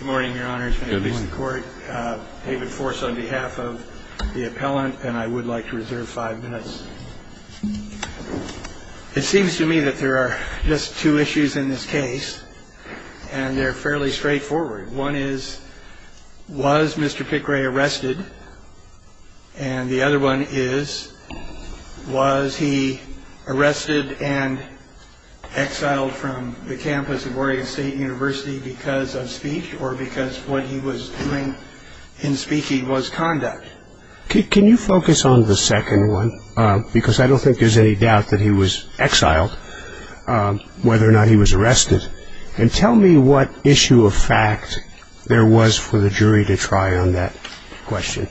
Good morning, your honors. May it please the court. David Force on behalf of the appellant, and I would like to reserve five minutes. It seems to me that there are just two issues in this case, and they're fairly straightforward. One is, was Mr. Picray arrested? And the other one is, was he arrested and exiled from the campus of Oregon State University because of speech or because what he was doing in speaking was conduct? Can you focus on the second one? Because I don't think there's any doubt that he was exiled, whether or not he was arrested. And tell me what issue of fact there was for the jury to try on that question.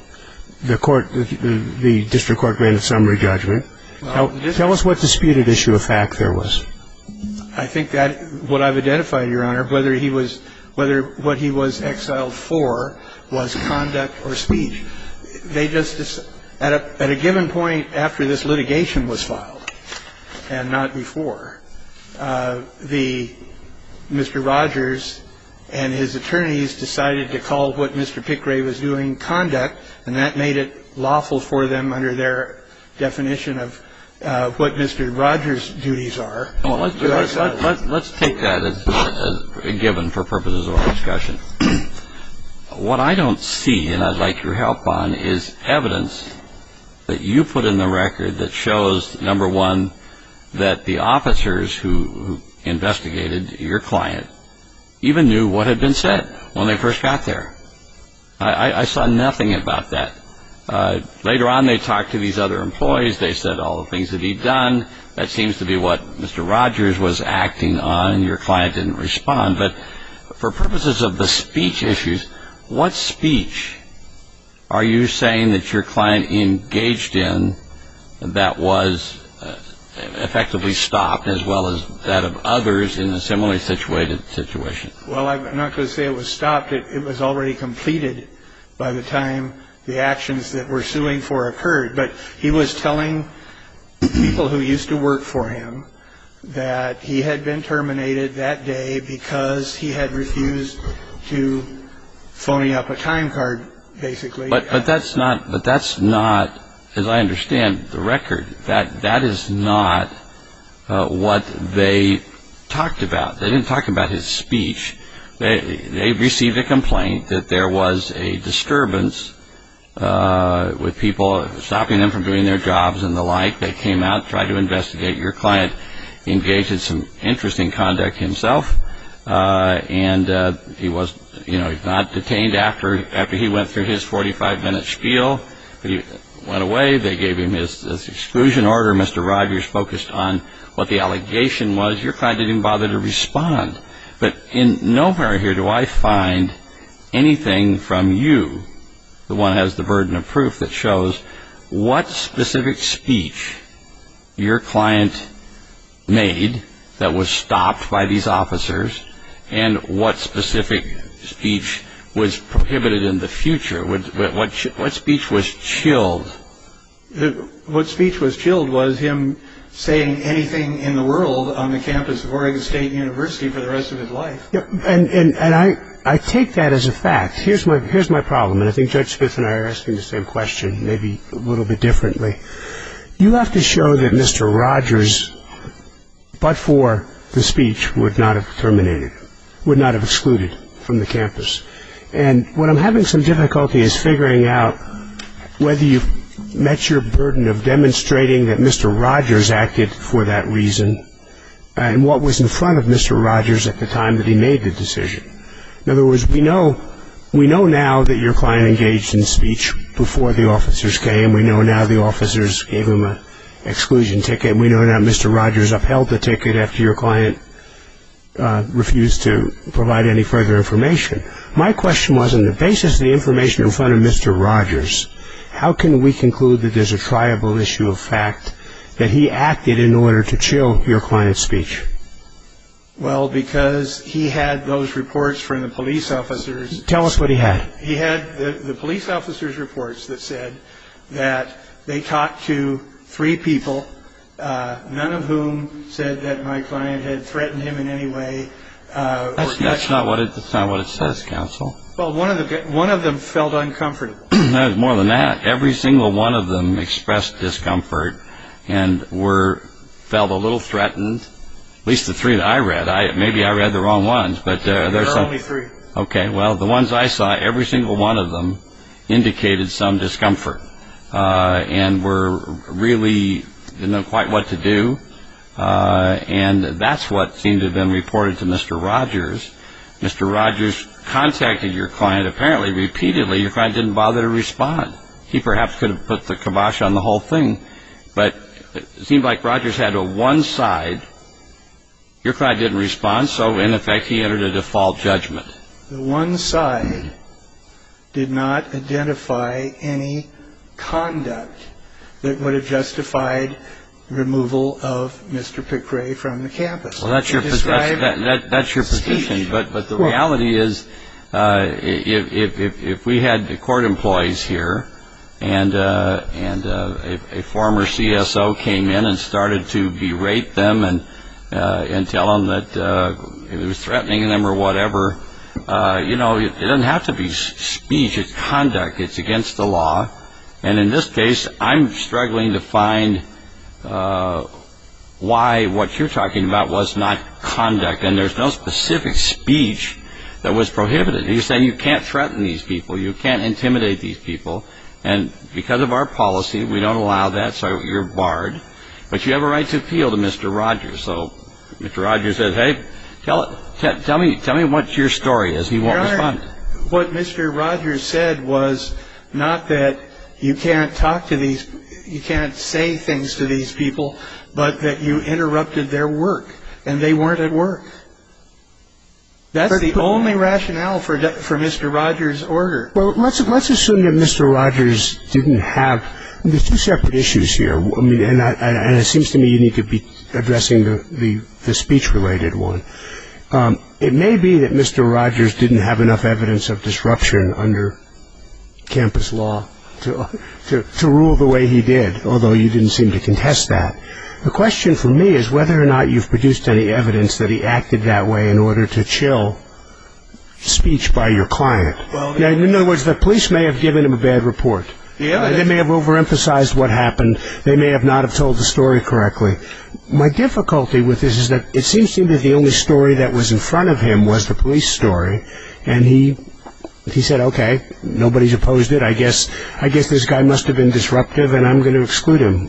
The court, the district court granted summary judgment. Tell us what disputed issue of fact there was. I think that what I've identified, your honor, whether he was, whether what he was exiled for was conduct or speech. They just, at a given point after this litigation was filed and not before, the, Mr. Rogers and his attorneys decided to call what Mr. Picray was doing conduct, and that made it lawful for them under their definition of what Mr. Rogers' duties are. Let's take that as a given for purposes of our discussion. What I don't see, and I'd like your help on, is evidence that you put in the record that shows, number one, that the officers who investigated your client even knew what had been said when they first got there. I saw nothing about that. Later on, they talked to these other employees. They said all the things that he'd done. That seems to be what Mr. Rogers was acting on. Your client didn't respond. But for purposes of the speech issues, what speech are you saying that your client engaged in that was effectively stopped, as well as that of others in a similarly situated situation? Well, I'm not going to say it was stopped. It was already completed by the time the actions that we're suing for occurred. But he was telling people who used to work for him that he had been terminated that day because he had refused to phony up a time card, basically. But that's not, as I understand the record, that is not what they talked about. They didn't talk about his speech. They received a complaint that there was a disturbance with people stopping them from doing their jobs and the like. They came out and tried to investigate your client. He engaged in some interesting conduct himself, and he was not detained after he went through his 45-minute spiel. He went away. They gave him his exclusion order. Mr. Rogers focused on what the allegation was. Your client didn't even bother to respond. But nowhere here do I find anything from you, the one who has the burden of proof, that shows what specific speech your client made that was stopped by these officers and what specific speech was prohibited in the future. What speech was chilled? What speech was chilled was him saying anything in the world on the campus of Oregon State University for the rest of his life. And I take that as a fact. Here's my problem, and I think Judge Spitz and I are asking the same question, maybe a little bit differently. You have to show that Mr. Rogers, but for the speech, would not have terminated, would not have excluded from the campus. And what I'm having some difficulty is figuring out whether you've met your burden of demonstrating that Mr. Rogers acted for that reason and what was in front of Mr. Rogers at the time that he made the decision. In other words, we know now that your client engaged in speech before the officers came. We know now the officers gave him an exclusion ticket. We know now that Mr. Rogers upheld the ticket after your client refused to provide any further information. My question was, on the basis of the information in front of Mr. Rogers, how can we conclude that there's a triable issue of fact that he acted in order to chill your client's speech? Well, because he had those reports from the police officers. Tell us what he had. He had the police officers' reports that said that they talked to three people, none of whom said that my client had threatened him in any way. That's not what it says, counsel. Well, one of them felt uncomfortable. More than that. Every single one of them expressed discomfort and felt a little threatened, at least the three that I read. Maybe I read the wrong ones. There are only three. Okay. Well, the ones I saw, every single one of them indicated some discomfort and were really didn't know quite what to do, and that's what seemed to have been reported to Mr. Rogers. Mr. Rogers contacted your client apparently repeatedly. Your client didn't bother to respond. He perhaps could have put the kibosh on the whole thing, but it seemed like Rogers had a one-side. Your client didn't respond, so, in effect, he entered a default judgment. The one side did not identify any conduct that would have justified the removal of Mr. Pickray from the campus. Well, that's your position, but the reality is if we had the court employees here and a former CSO came in and started to berate them and tell them that he was threatening them or whatever, it doesn't have to be speech. It's conduct. It's against the law, and in this case, I'm struggling to find why what you're talking about was not conduct, and there's no specific speech that was prohibited. You're saying you can't threaten these people. You can't intimidate these people, and because of our policy, we don't allow that, so you're barred, but you have a right to appeal to Mr. Rogers, so Mr. Rogers said, hey, tell me what your story is. He won't respond. Your Honor, what Mr. Rogers said was not that you can't talk to these, you can't say things to these people, but that you interrupted their work, and they weren't at work. That's the only rationale for Mr. Rogers' order. Well, let's assume that Mr. Rogers didn't have, and there's two separate issues here, and it seems to me you need to be addressing the speech-related one. It may be that Mr. Rogers didn't have enough evidence of disruption under campus law to rule the way he did, although you didn't seem to contest that. The question for me is whether or not you've produced any evidence that he acted that way in order to chill speech by your client. In other words, the police may have given him a bad report. They may have overemphasized what happened. They may have not have told the story correctly. My difficulty with this is that it seems to me the only story that was in front of him was the police story, and he said, okay, nobody's opposed it. I guess this guy must have been disruptive, and I'm going to exclude him.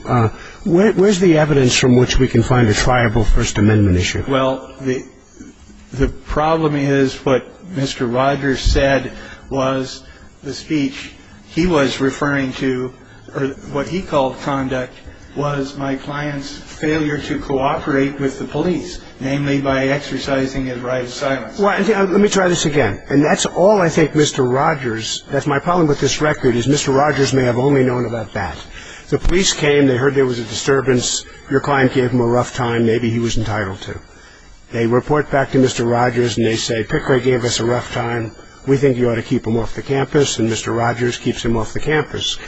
Where's the evidence from which we can find a triable First Amendment issue? Well, the problem is what Mr. Rogers said was the speech he was referring to, or what he called conduct, was my client's failure to cooperate with the police, namely by exercising his right of silence. Well, let me try this again. And that's all I think Mr. Rogers, that's my problem with this record, is Mr. Rogers may have only known about that. The police came. They heard there was a disturbance. Your client gave him a rough time. Maybe he was entitled to. They report back to Mr. Rogers, and they say, Pickering gave us a rough time. We think you ought to keep him off the campus, and Mr. Rogers keeps him off the campus.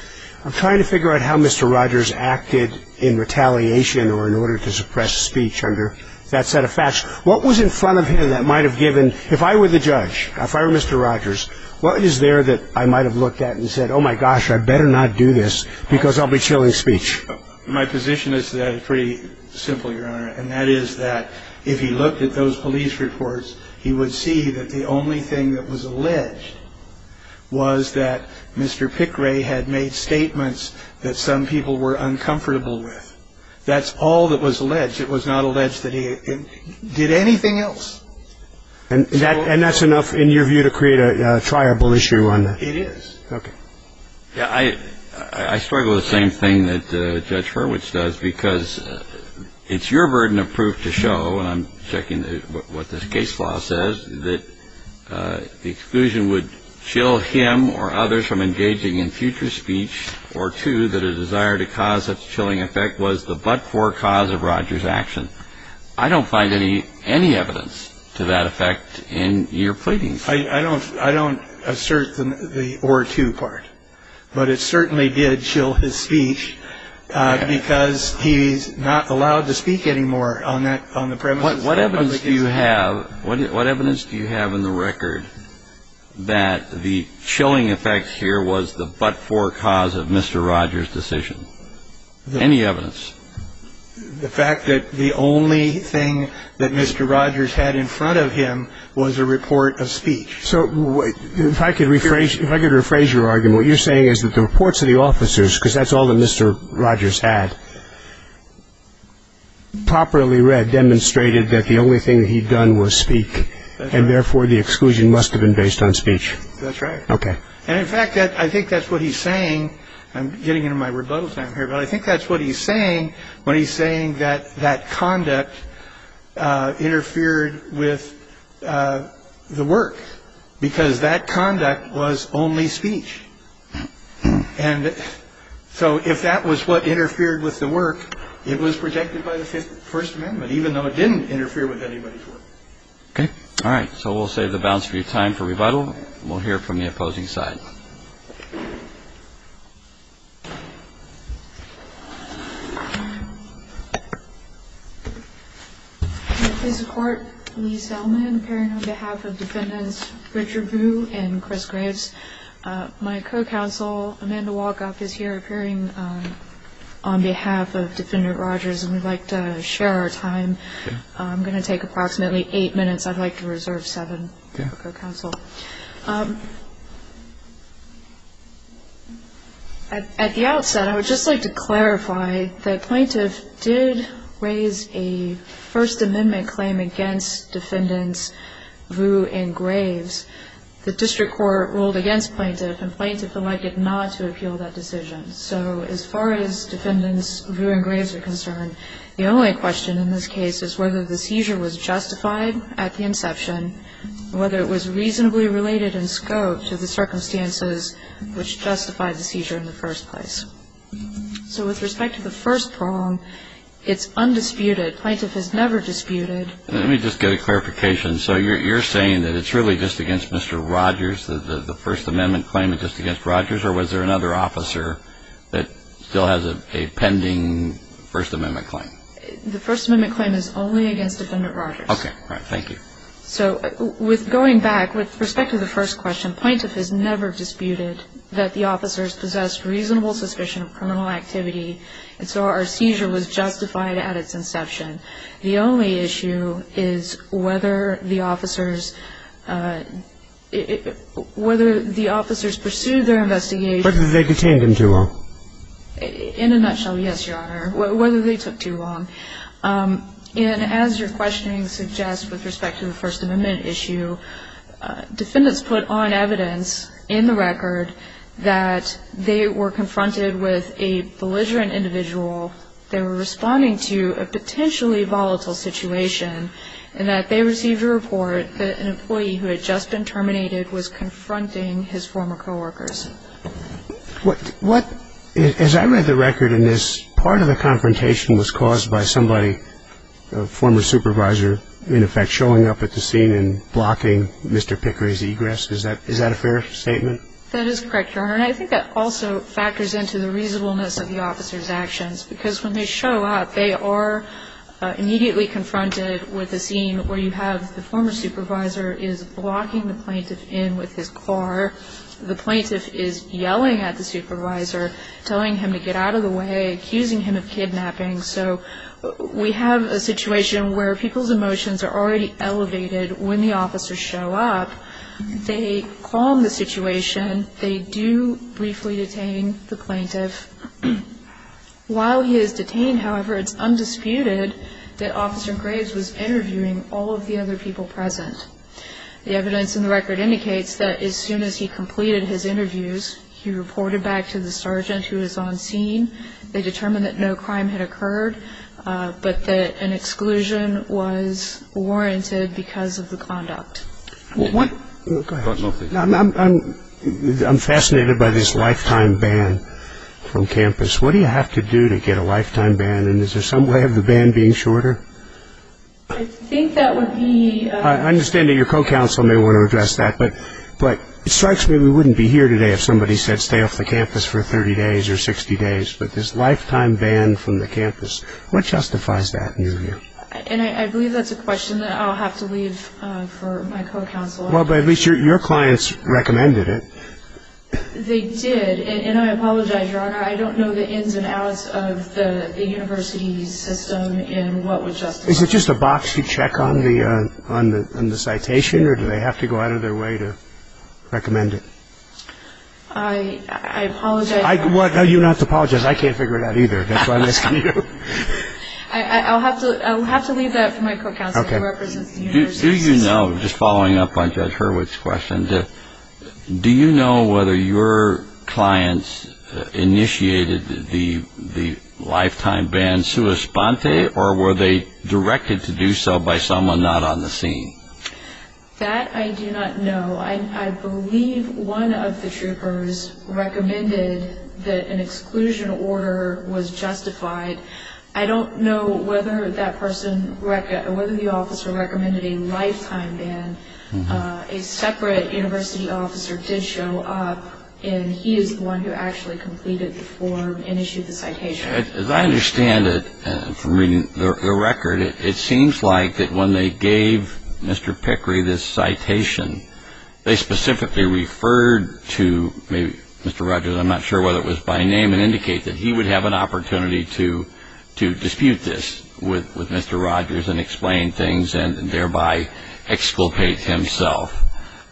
I'm trying to figure out how Mr. Rogers acted in retaliation or in order to suppress speech under that set of facts. What was in front of him that might have given, if I were the judge, if I were Mr. Rogers, what is there that I might have looked at and said, oh, my gosh, I better not do this because I'll be chilling speech? My position is pretty simple, Your Honor, and that is that if he looked at those police reports, he would see that the only thing that was alleged was that Mr. Pickering had made statements that some people were uncomfortable with. That's all that was alleged. It was not alleged that he did anything else. And that's enough, in your view, to create a triable issue on that? It is. Okay. I struggle with the same thing that Judge Hurwitz does because it's your burden of proof to show, and I'm checking what this case law says, that the exclusion would chill him or others from engaging in future speech, or two, that a desire to cause such a chilling effect was the but-for cause of Rogers' action. I don't find any evidence to that effect in your pleadings. I don't assert the or two part, but it certainly did chill his speech because he's not allowed to speak anymore on the premises. What evidence do you have in the record that the chilling effects here was the but-for cause of Mr. Rogers' decision? Any evidence? The fact that the only thing that Mr. Rogers had in front of him was a report of speech. So if I could rephrase your argument, what you're saying is that the reports of the officers, because that's all that Mr. Rogers had, properly read, demonstrated that the only thing he'd done was speak, and therefore the exclusion must have been based on speech. That's right. Okay. And in fact, I think that's what he's saying. I'm getting into my rebuttal time here, but I think that's what he's saying when he's saying that that conduct interfered with the work, because that conduct was only speech. And so if that was what interfered with the work, it was protected by the First Amendment, even though it didn't interfere with anybody's work. Okay. All right. So we'll save the balance for your time for rebuttal. We'll hear from the opposing side. Please support Lee Selman appearing on behalf of Defendants Richard Vu and Chris Graves. My co-counsel, Amanda Walkoff, is here appearing on behalf of Defendant Rogers, and we'd like to share our time. I'm going to take approximately eight minutes. I'd like to reserve seven for co-counsel. At the outset, I would just like to clarify that plaintiff did raise a First Amendment claim against Defendants Vu and Graves. The district court ruled against plaintiff, and plaintiff elected not to appeal that decision. So as far as Defendants Vu and Graves are concerned, the only question in this case is whether the seizure was justified at the inception and whether it was reasonably related in scope to the circumstances which justified the seizure in the first place. So with respect to the first prong, it's undisputed. Plaintiff has never disputed. Let me just get a clarification. So you're saying that it's really just against Mr. Rogers, the First Amendment claim is just against Rogers, or was there another officer that still has a pending First Amendment claim? The First Amendment claim is only against Defendant Rogers. Okay. All right. Thank you. So going back, with respect to the first question, plaintiff has never disputed that the officers possessed reasonable suspicion of criminal activity, and so our seizure was justified at its inception. The only issue is whether the officers pursued their investigation. Whether they detained them too long. In a nutshell, yes, Your Honor, whether they took too long. And as your questioning suggests with respect to the First Amendment issue, Defendants put on evidence in the record that they were confronted with a belligerent individual. They were responding to a potentially volatile situation, and that they received a report that an employee who had just been terminated was confronting his former co-workers. As I read the record in this, part of the confrontation was caused by somebody, a former supervisor, in effect, showing up at the scene and blocking Mr. Pickery's egress. Is that a fair statement? That is correct, Your Honor. And I think that also factors into the reasonableness of the officers' actions, because when they show up, they are immediately confronted with a scene where you have the former supervisor is blocking the plaintiff in with his car. The plaintiff is yelling at the supervisor, telling him to get out of the way, accusing him of kidnapping. So we have a situation where people's emotions are already elevated when the officers show up. They calm the situation. They do briefly detain the plaintiff. While he is detained, however, it's undisputed that Officer Graves was interviewing all of the other people present. The evidence in the record indicates that as soon as he completed his interviews, he reported back to the sergeant who was on scene. They determined that no crime had occurred, but that an exclusion was warranted because of the conduct. I'm fascinated by this lifetime ban from campus. What do you have to do to get a lifetime ban? And is there some way of the ban being shorter? I think that would be... I understand that your co-counsel may want to address that, but it strikes me we wouldn't be here today if somebody said stay off the campus for 30 days or 60 days. But this lifetime ban from the campus, what justifies that in your view? And I believe that's a question that I'll have to leave for my co-counsel. Well, but at least your clients recommended it. They did, and I apologize, Your Honor. I don't know the ins and outs of the university system and what would justify it. Is it just a box you check on the citation, or do they have to go out of their way to recommend it? I apologize. You don't have to apologize. I can't figure it out either. That's why I'm asking you. I'll have to leave that for my co-counsel who represents the university system. Do you know, just following up on Judge Hurwitz's question, do you know whether your clients initiated the lifetime ban sua sponte, or were they directed to do so by someone not on the scene? That I do not know. I believe one of the troopers recommended that an exclusion order was justified. I don't know whether the officer recommended a lifetime ban. A separate university officer did show up, and he is the one who actually completed the form and issued the citation. As I understand it from reading the record, it seems like that when they gave Mr. Pickery this citation, they specifically referred to maybe Mr. Rogers, I'm not sure whether it was by name, and indicate that he would have an opportunity to dispute this with Mr. Rogers and explain things and thereby exculpate himself.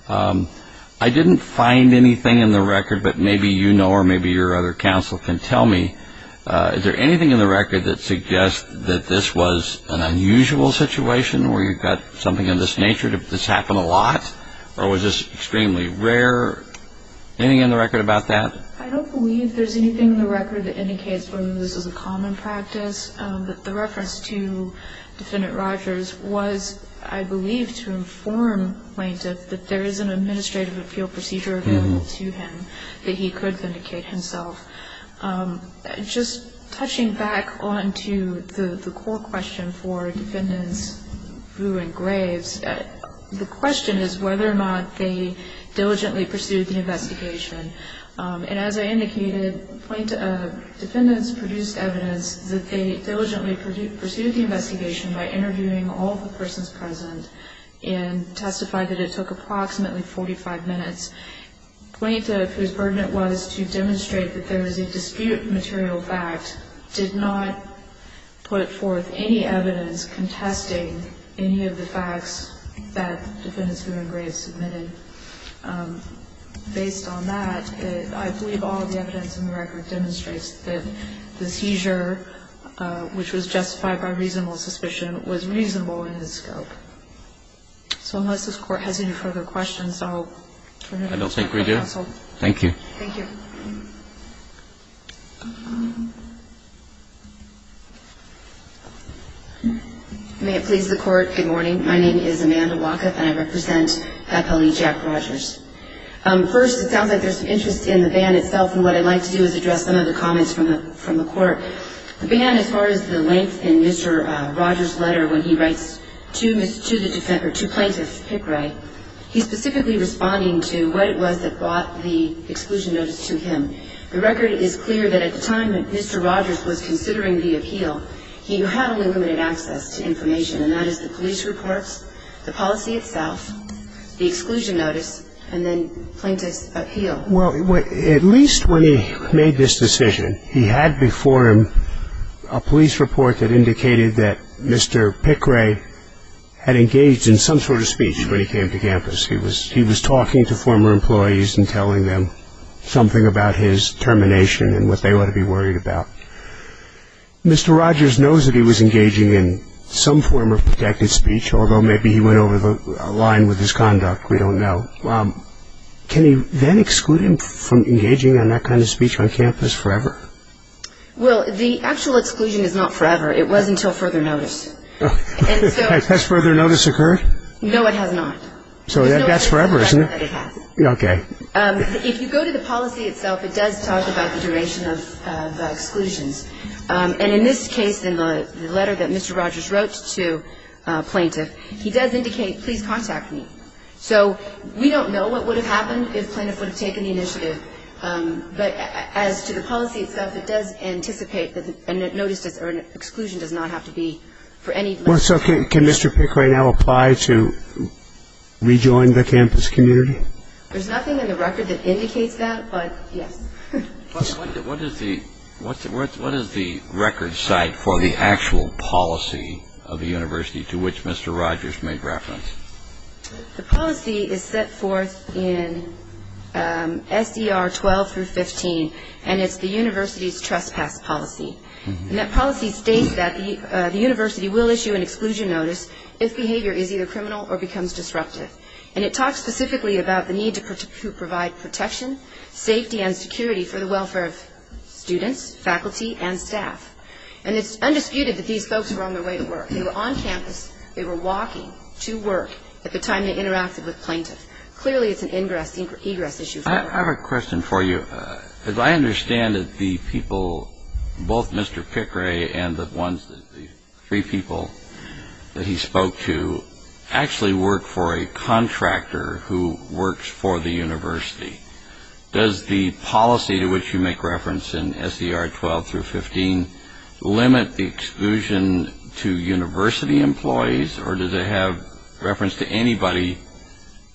I didn't find anything in the record, but maybe you know or maybe your other counsel can tell me, is there anything in the record that suggests that this was an unusual situation where you've got something of this nature, that this happened a lot? Or was this extremely rare? Anything in the record about that? I don't believe there's anything in the record that indicates whether this was a common practice. The reference to Defendant Rogers was, I believe, to inform Plaintiff that there is an administrative appeal procedure available to him that he could vindicate himself. Just touching back onto the core question for Defendants Boo and Graves, the question is whether or not they diligently pursued the investigation. And as I indicated, Defendants produced evidence that they diligently pursued the investigation by interviewing all the persons present and testified that it took approximately 45 minutes. Plaintiff, whose burden it was to demonstrate that there was a dispute material fact, did not put forth any evidence contesting any of the facts that Defendants Boo and Graves submitted. Based on that, I believe all of the evidence in the record demonstrates that the seizure, which was justified by reasonable suspicion, was reasonable in its scope. So unless this Court has any further questions, I'll turn it over to my counsel. I don't think we do. Thank you. May it please the Court, good morning. My name is Amanda Walketh, and I represent FLE Jack Rogers. First, it sounds like there's some interest in the ban itself, and what I'd like to do is address some of the comments from the Court. The ban, as far as the length in Mr. Rogers' letter when he writes to Plaintiff Pickray, he's specifically responding to what it was that brought the exclusion notice to him. The record is clear that at the time that Mr. Rogers was considering the appeal, he had only limited access to information, and that is the police reports, the policy itself, the exclusion notice, and then Plaintiff's appeal. Well, at least when he made this decision, he had before him a police report that indicated that Mr. Pickray had engaged in some sort of speech when he came to campus. He was talking to former employees and telling them something about his termination and what they ought to be worried about. Mr. Rogers knows that he was engaging in some form of protected speech, although maybe he went over the line with his conduct. We don't know. Can you then exclude him from engaging in that kind of speech on campus forever? Well, the actual exclusion is not forever. It was until further notice. Has further notice occurred? No, it has not. So that's forever, isn't it? Okay. If you go to the policy itself, it does talk about the duration of exclusions. And in this case, in the letter that Mr. Rogers wrote to Plaintiff, he does indicate, please contact me. So we don't know what would have happened if Plaintiff would have taken the initiative, but as to the policy itself, it does anticipate that an exclusion does not have to be for any longer. So can Mr. Pickray now apply to rejoin the campus community? There's nothing in the record that indicates that, but yes. What is the record site for the actual policy of the university to which Mr. Rogers made reference? The policy is set forth in SDR 12 through 15, and it's the university's trespass policy. And that policy states that the university will issue an exclusion notice if behavior is either criminal or becomes disruptive. And it talks specifically about the need to provide protection, safety, and security for the welfare of students, faculty, and staff. And it's undisputed that these folks were on their way to work. They were on campus. They were walking to work at the time they interacted with Plaintiff. Clearly, it's an egress issue. I have a question for you. As I understand it, the people, both Mr. Pickray and the three people that he spoke to, actually work for a contractor who works for the university. Does the policy to which you make reference in SDR 12 through 15 limit the exclusion to university employees, or does it have reference to anybody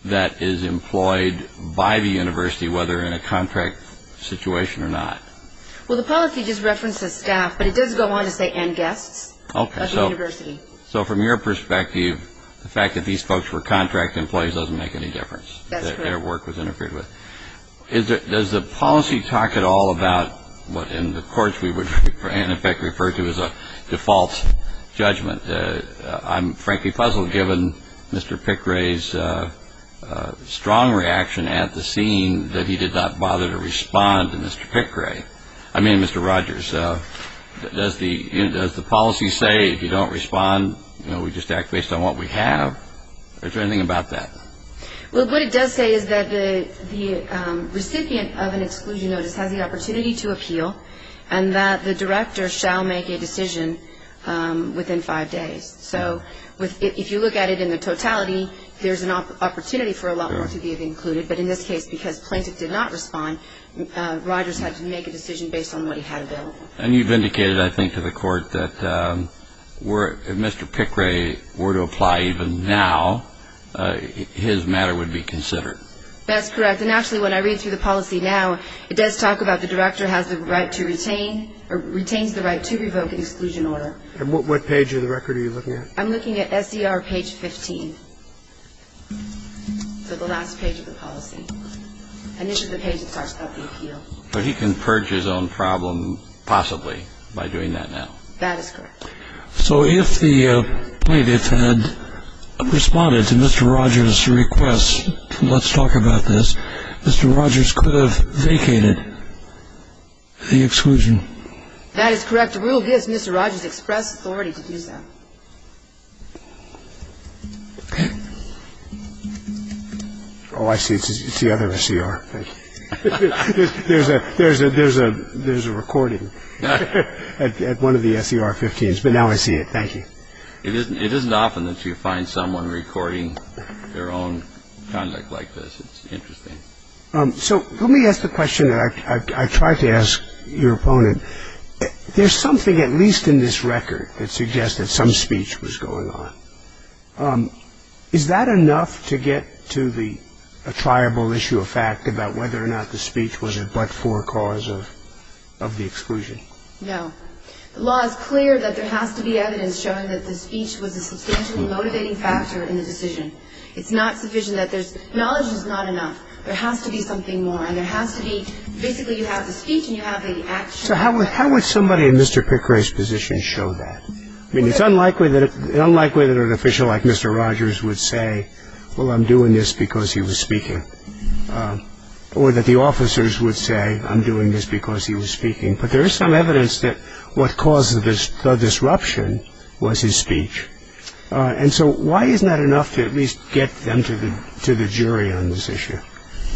that is employed by the university, whether in a contract situation or not? Well, the policy just references staff, but it does go on to say and guests at the university. So from your perspective, the fact that these folks were contract employees doesn't make any difference. That's correct. Their work was interfered with. Does the policy talk at all about what in the courts we would in effect refer to as a default judgment? I'm frankly puzzled given Mr. Pickray's strong reaction at the scene that he did not bother to respond to Mr. Pickray. I mean Mr. Rogers. Does the policy say if you don't respond, we just act based on what we have? Is there anything about that? Well, what it does say is that the recipient of an exclusion notice has the opportunity to appeal and that the director shall make a decision within five days. So if you look at it in the totality, there's an opportunity for a lot more to be included. But in this case, because Plaintiff did not respond, Rogers had to make a decision based on what he had available. And you've indicated, I think, to the court that if Mr. Pickray were to apply even now, his matter would be considered. That's correct. And actually when I read through the policy now, it does talk about the director has the right to retain or retains the right to revoke an exclusion order. And what page of the record are you looking at? I'm looking at SDR page 15. So the last page of the policy. And this is the page that starts out the appeal. But he can purge his own problem possibly by doing that now. That is correct. So if the plaintiff had responded to Mr. Rogers' request, let's talk about this, Mr. Rogers could have vacated the exclusion. That is correct. The rule gives Mr. Rogers express authority to do so. Oh, I see. It's the other SCR. Thank you. There's a recording at one of the SCR 15s, but now I see it. Thank you. It isn't often that you find someone recording their own conduct like this. It's interesting. So let me ask the question that I tried to ask your opponent. There's something at least in this record that suggests that some speech was going on. Is that enough to get to the attributable issue of fact about whether or not the speech was a but-for cause of the exclusion? No. The law is clear that there has to be evidence showing that the speech was a substantially motivating factor in the decision. It's not sufficient. Knowledge is not enough. There has to be something more, and there has to be basically you have the speech and you have the action. So how would somebody in Mr. Pickering's position show that? I mean, it's unlikely that an official like Mr. Rogers would say, well, I'm doing this because he was speaking, or that the officers would say, I'm doing this because he was speaking. But there is some evidence that what caused the disruption was his speech. And so why isn't that enough to at least get them to the jury on this issue?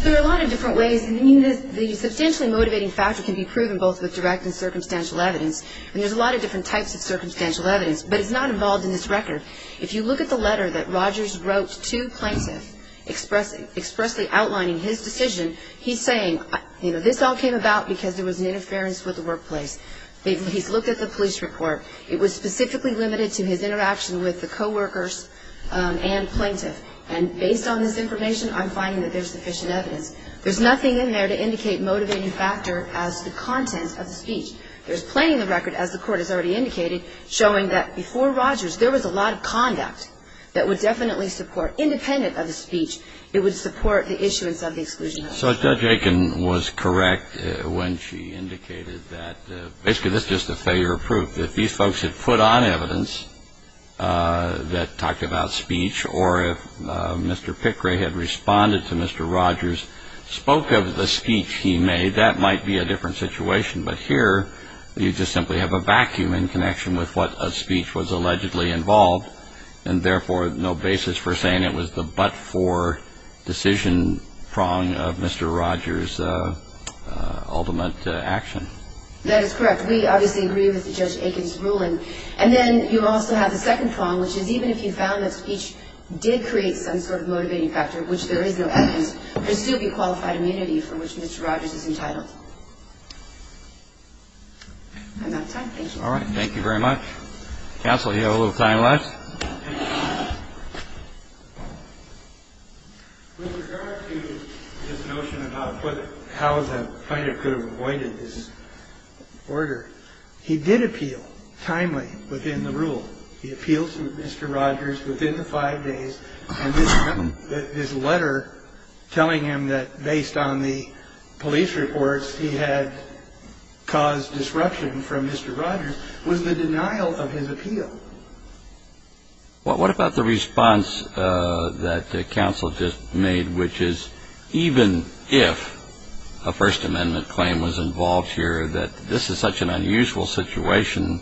There are a lot of different ways. I mean, the substantially motivating factor can be proven both with direct and circumstantial evidence. And there's a lot of different types of circumstantial evidence, but it's not involved in this record. If you look at the letter that Rogers wrote to plaintiffs expressly outlining his decision, he's saying, you know, this all came about because there was an interference with the workplace. He's looked at the police report. It was specifically limited to his interaction with the coworkers and plaintiff. And based on this information, I'm finding that there's sufficient evidence. There's nothing in there to indicate motivating factor as the content of the speech. There's plenty in the record, as the Court has already indicated, showing that before Rogers there was a lot of conduct that would definitely support, independent of the speech, it would support the issuance of the exclusion. So Judge Aiken was correct when she indicated that basically this is just a failure of proof. If these folks had put on evidence that talked about speech or if Mr. Pickrey had responded to Mr. Rogers, spoke of the speech he made, that might be a different situation. But here you just simply have a vacuum in connection with what a speech was allegedly involved and therefore no basis for saying it was the but-for decision prong of Mr. Rogers' ultimate action. That is correct. We obviously agree with Judge Aiken's ruling. And then you also have the second prong, which is even if you found that speech did create some sort of motivating factor, which there is no evidence, there would still be qualified immunity for which Mr. Rogers is entitled. I'm out of time. Thank you. All right. Thank you very much. Counsel, do you have a little time left? With regard to this notion about how the fighter could have avoided this order, he did appeal timely within the rule. He appealed to Mr. Rogers within the five days. And this letter telling him that based on the police reports he had caused disruption from Mr. Rogers was the denial of his appeal. Well, what about the response that counsel just made, which is even if a First Amendment claim was involved here that this is such an unusual situation,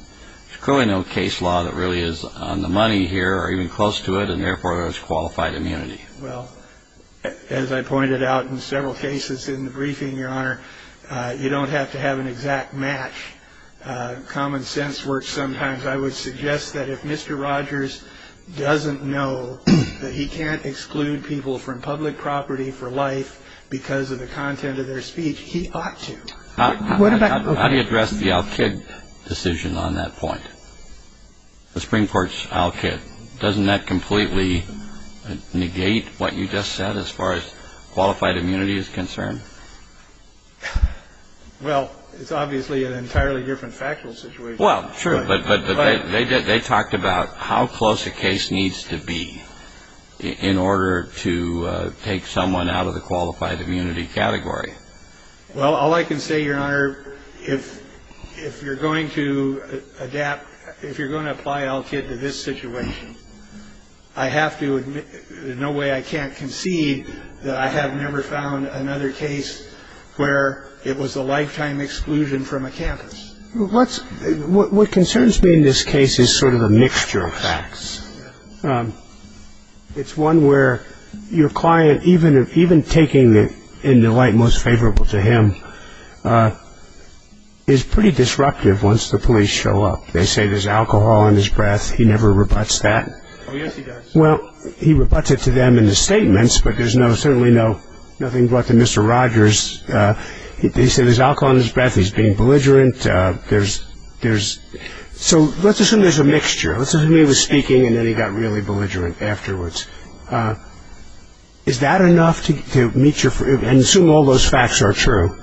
there's clearly no case law that really is on the money here or even close to it, and therefore there's qualified immunity. Well, as I pointed out in several cases in the briefing, Your Honor, you don't have to have an exact match. Common sense works sometimes. I would suggest that if Mr. Rogers doesn't know that he can't exclude people from public property for life because of the content of their speech, he ought to. How do you address the Al-Kid decision on that point, the Supreme Court's Al-Kid? Doesn't that completely negate what you just said as far as qualified immunity is concerned? Well, it's obviously an entirely different factual situation. Well, sure, but they talked about how close a case needs to be in order to take someone out of the qualified immunity category. Well, all I can say, Your Honor, if you're going to adapt, if you're going to apply Al-Kid to this situation, I have to admit there's no way I can't concede that I have never found another case where it was a lifetime exclusion from a campus. What concerns me in this case is sort of a mixture of facts. It's one where your client, even taking it in the light most favorable to him, is pretty disruptive once the police show up. They say there's alcohol in his breath. He never rebuts that. Oh, yes, he does. Well, he rebuts it to them in his statements, but there's certainly nothing brought to Mr. Rogers. They say there's alcohol in his breath. He's being belligerent. So let's assume there's a mixture. Let's assume he was speaking and then he got really belligerent afterwards. Is that enough to meet your – and assume all those facts are true?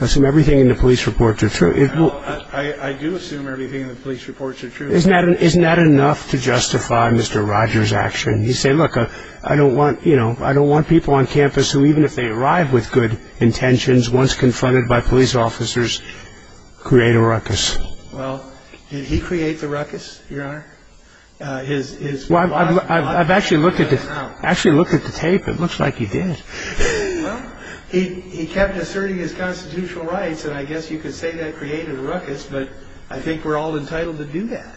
Assume everything in the police reports are true? I do assume everything in the police reports are true. Isn't that enough to justify Mr. Rogers' action? You say, look, I don't want people on campus who, even if they arrive with good intentions, once confronted by police officers, create a ruckus. Well, did he create the ruckus, Your Honor? Well, I've actually looked at the tape. It looks like he did. Well, he kept asserting his constitutional rights, and I guess you could say that created a ruckus, but I think we're all entitled to do that.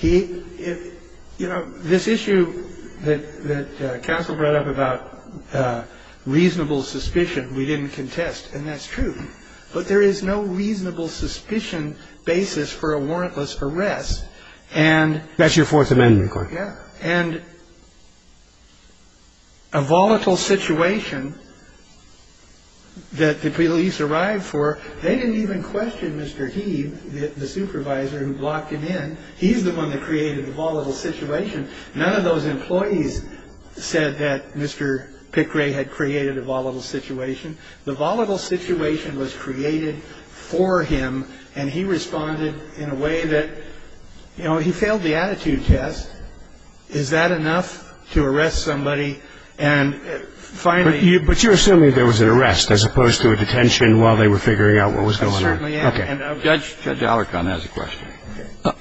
You know, this issue that counsel brought up about reasonable suspicion, we didn't contest, and that's true. But there is no reasonable suspicion basis for a warrantless arrest. That's your Fourth Amendment claim. And a volatile situation that the police arrived for, they didn't even question Mr. Heave, the supervisor who blocked him in. He's the one that created the volatile situation. None of those employees said that Mr. Pickray had created a volatile situation. The volatile situation was created for him, and he responded in a way that – you know, he failed the attitude test. Is that enough to arrest somebody and finally – But you're assuming there was an arrest as opposed to a detention while they were figuring out what was going on. I certainly am. Okay. Judge Allerkon has a question.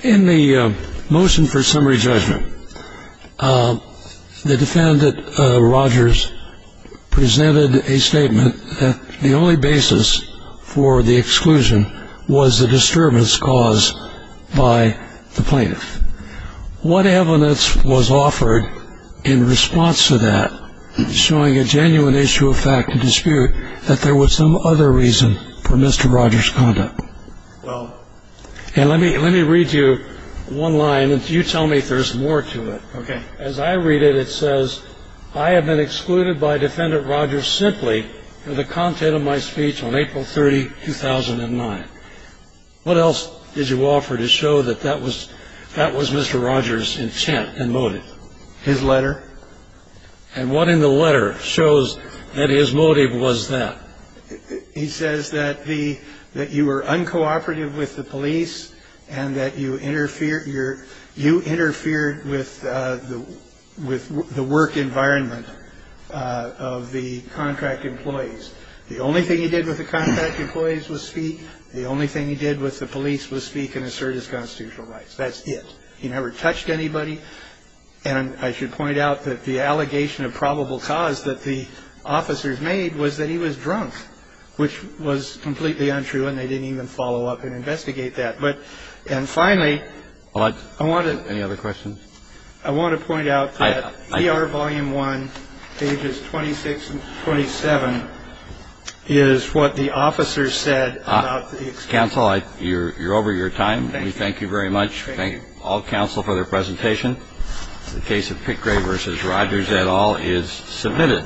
In the motion for summary judgment, the defendant, Rogers, presented a statement that the only basis for the exclusion was the disturbance caused by the plaintiff. What evidence was offered in response to that showing a genuine issue of fact and dispute that there was some other reason for Mr. Rogers' conduct? Well – And let me read you one line, and you tell me if there's more to it. Okay. As I read it, it says, I have been excluded by Defendant Rogers simply for the content of my speech on April 30, 2009. What else did you offer to show that that was Mr. Rogers' intent and motive? His letter. And what in the letter shows that his motive was that? He says that you were uncooperative with the police and that you interfered with the work environment of the contract employees. The only thing he did with the contract employees was speak. The only thing he did with the police was speak and assert his constitutional rights. That's it. He never touched anybody. And I should point out that the allegation of probable cause that the officers made was that he was drunk, which was completely untrue, and they didn't even follow up and investigate that. But – and finally, I want to – Any other questions? I want to point out that ER Volume 1, pages 26 and 27, is what the officers said about the exclusion. Counsel, you're over your time. We thank you very much. Thank all counsel for their presentation. The case of Pickrey v. Rogers et al. is submitted.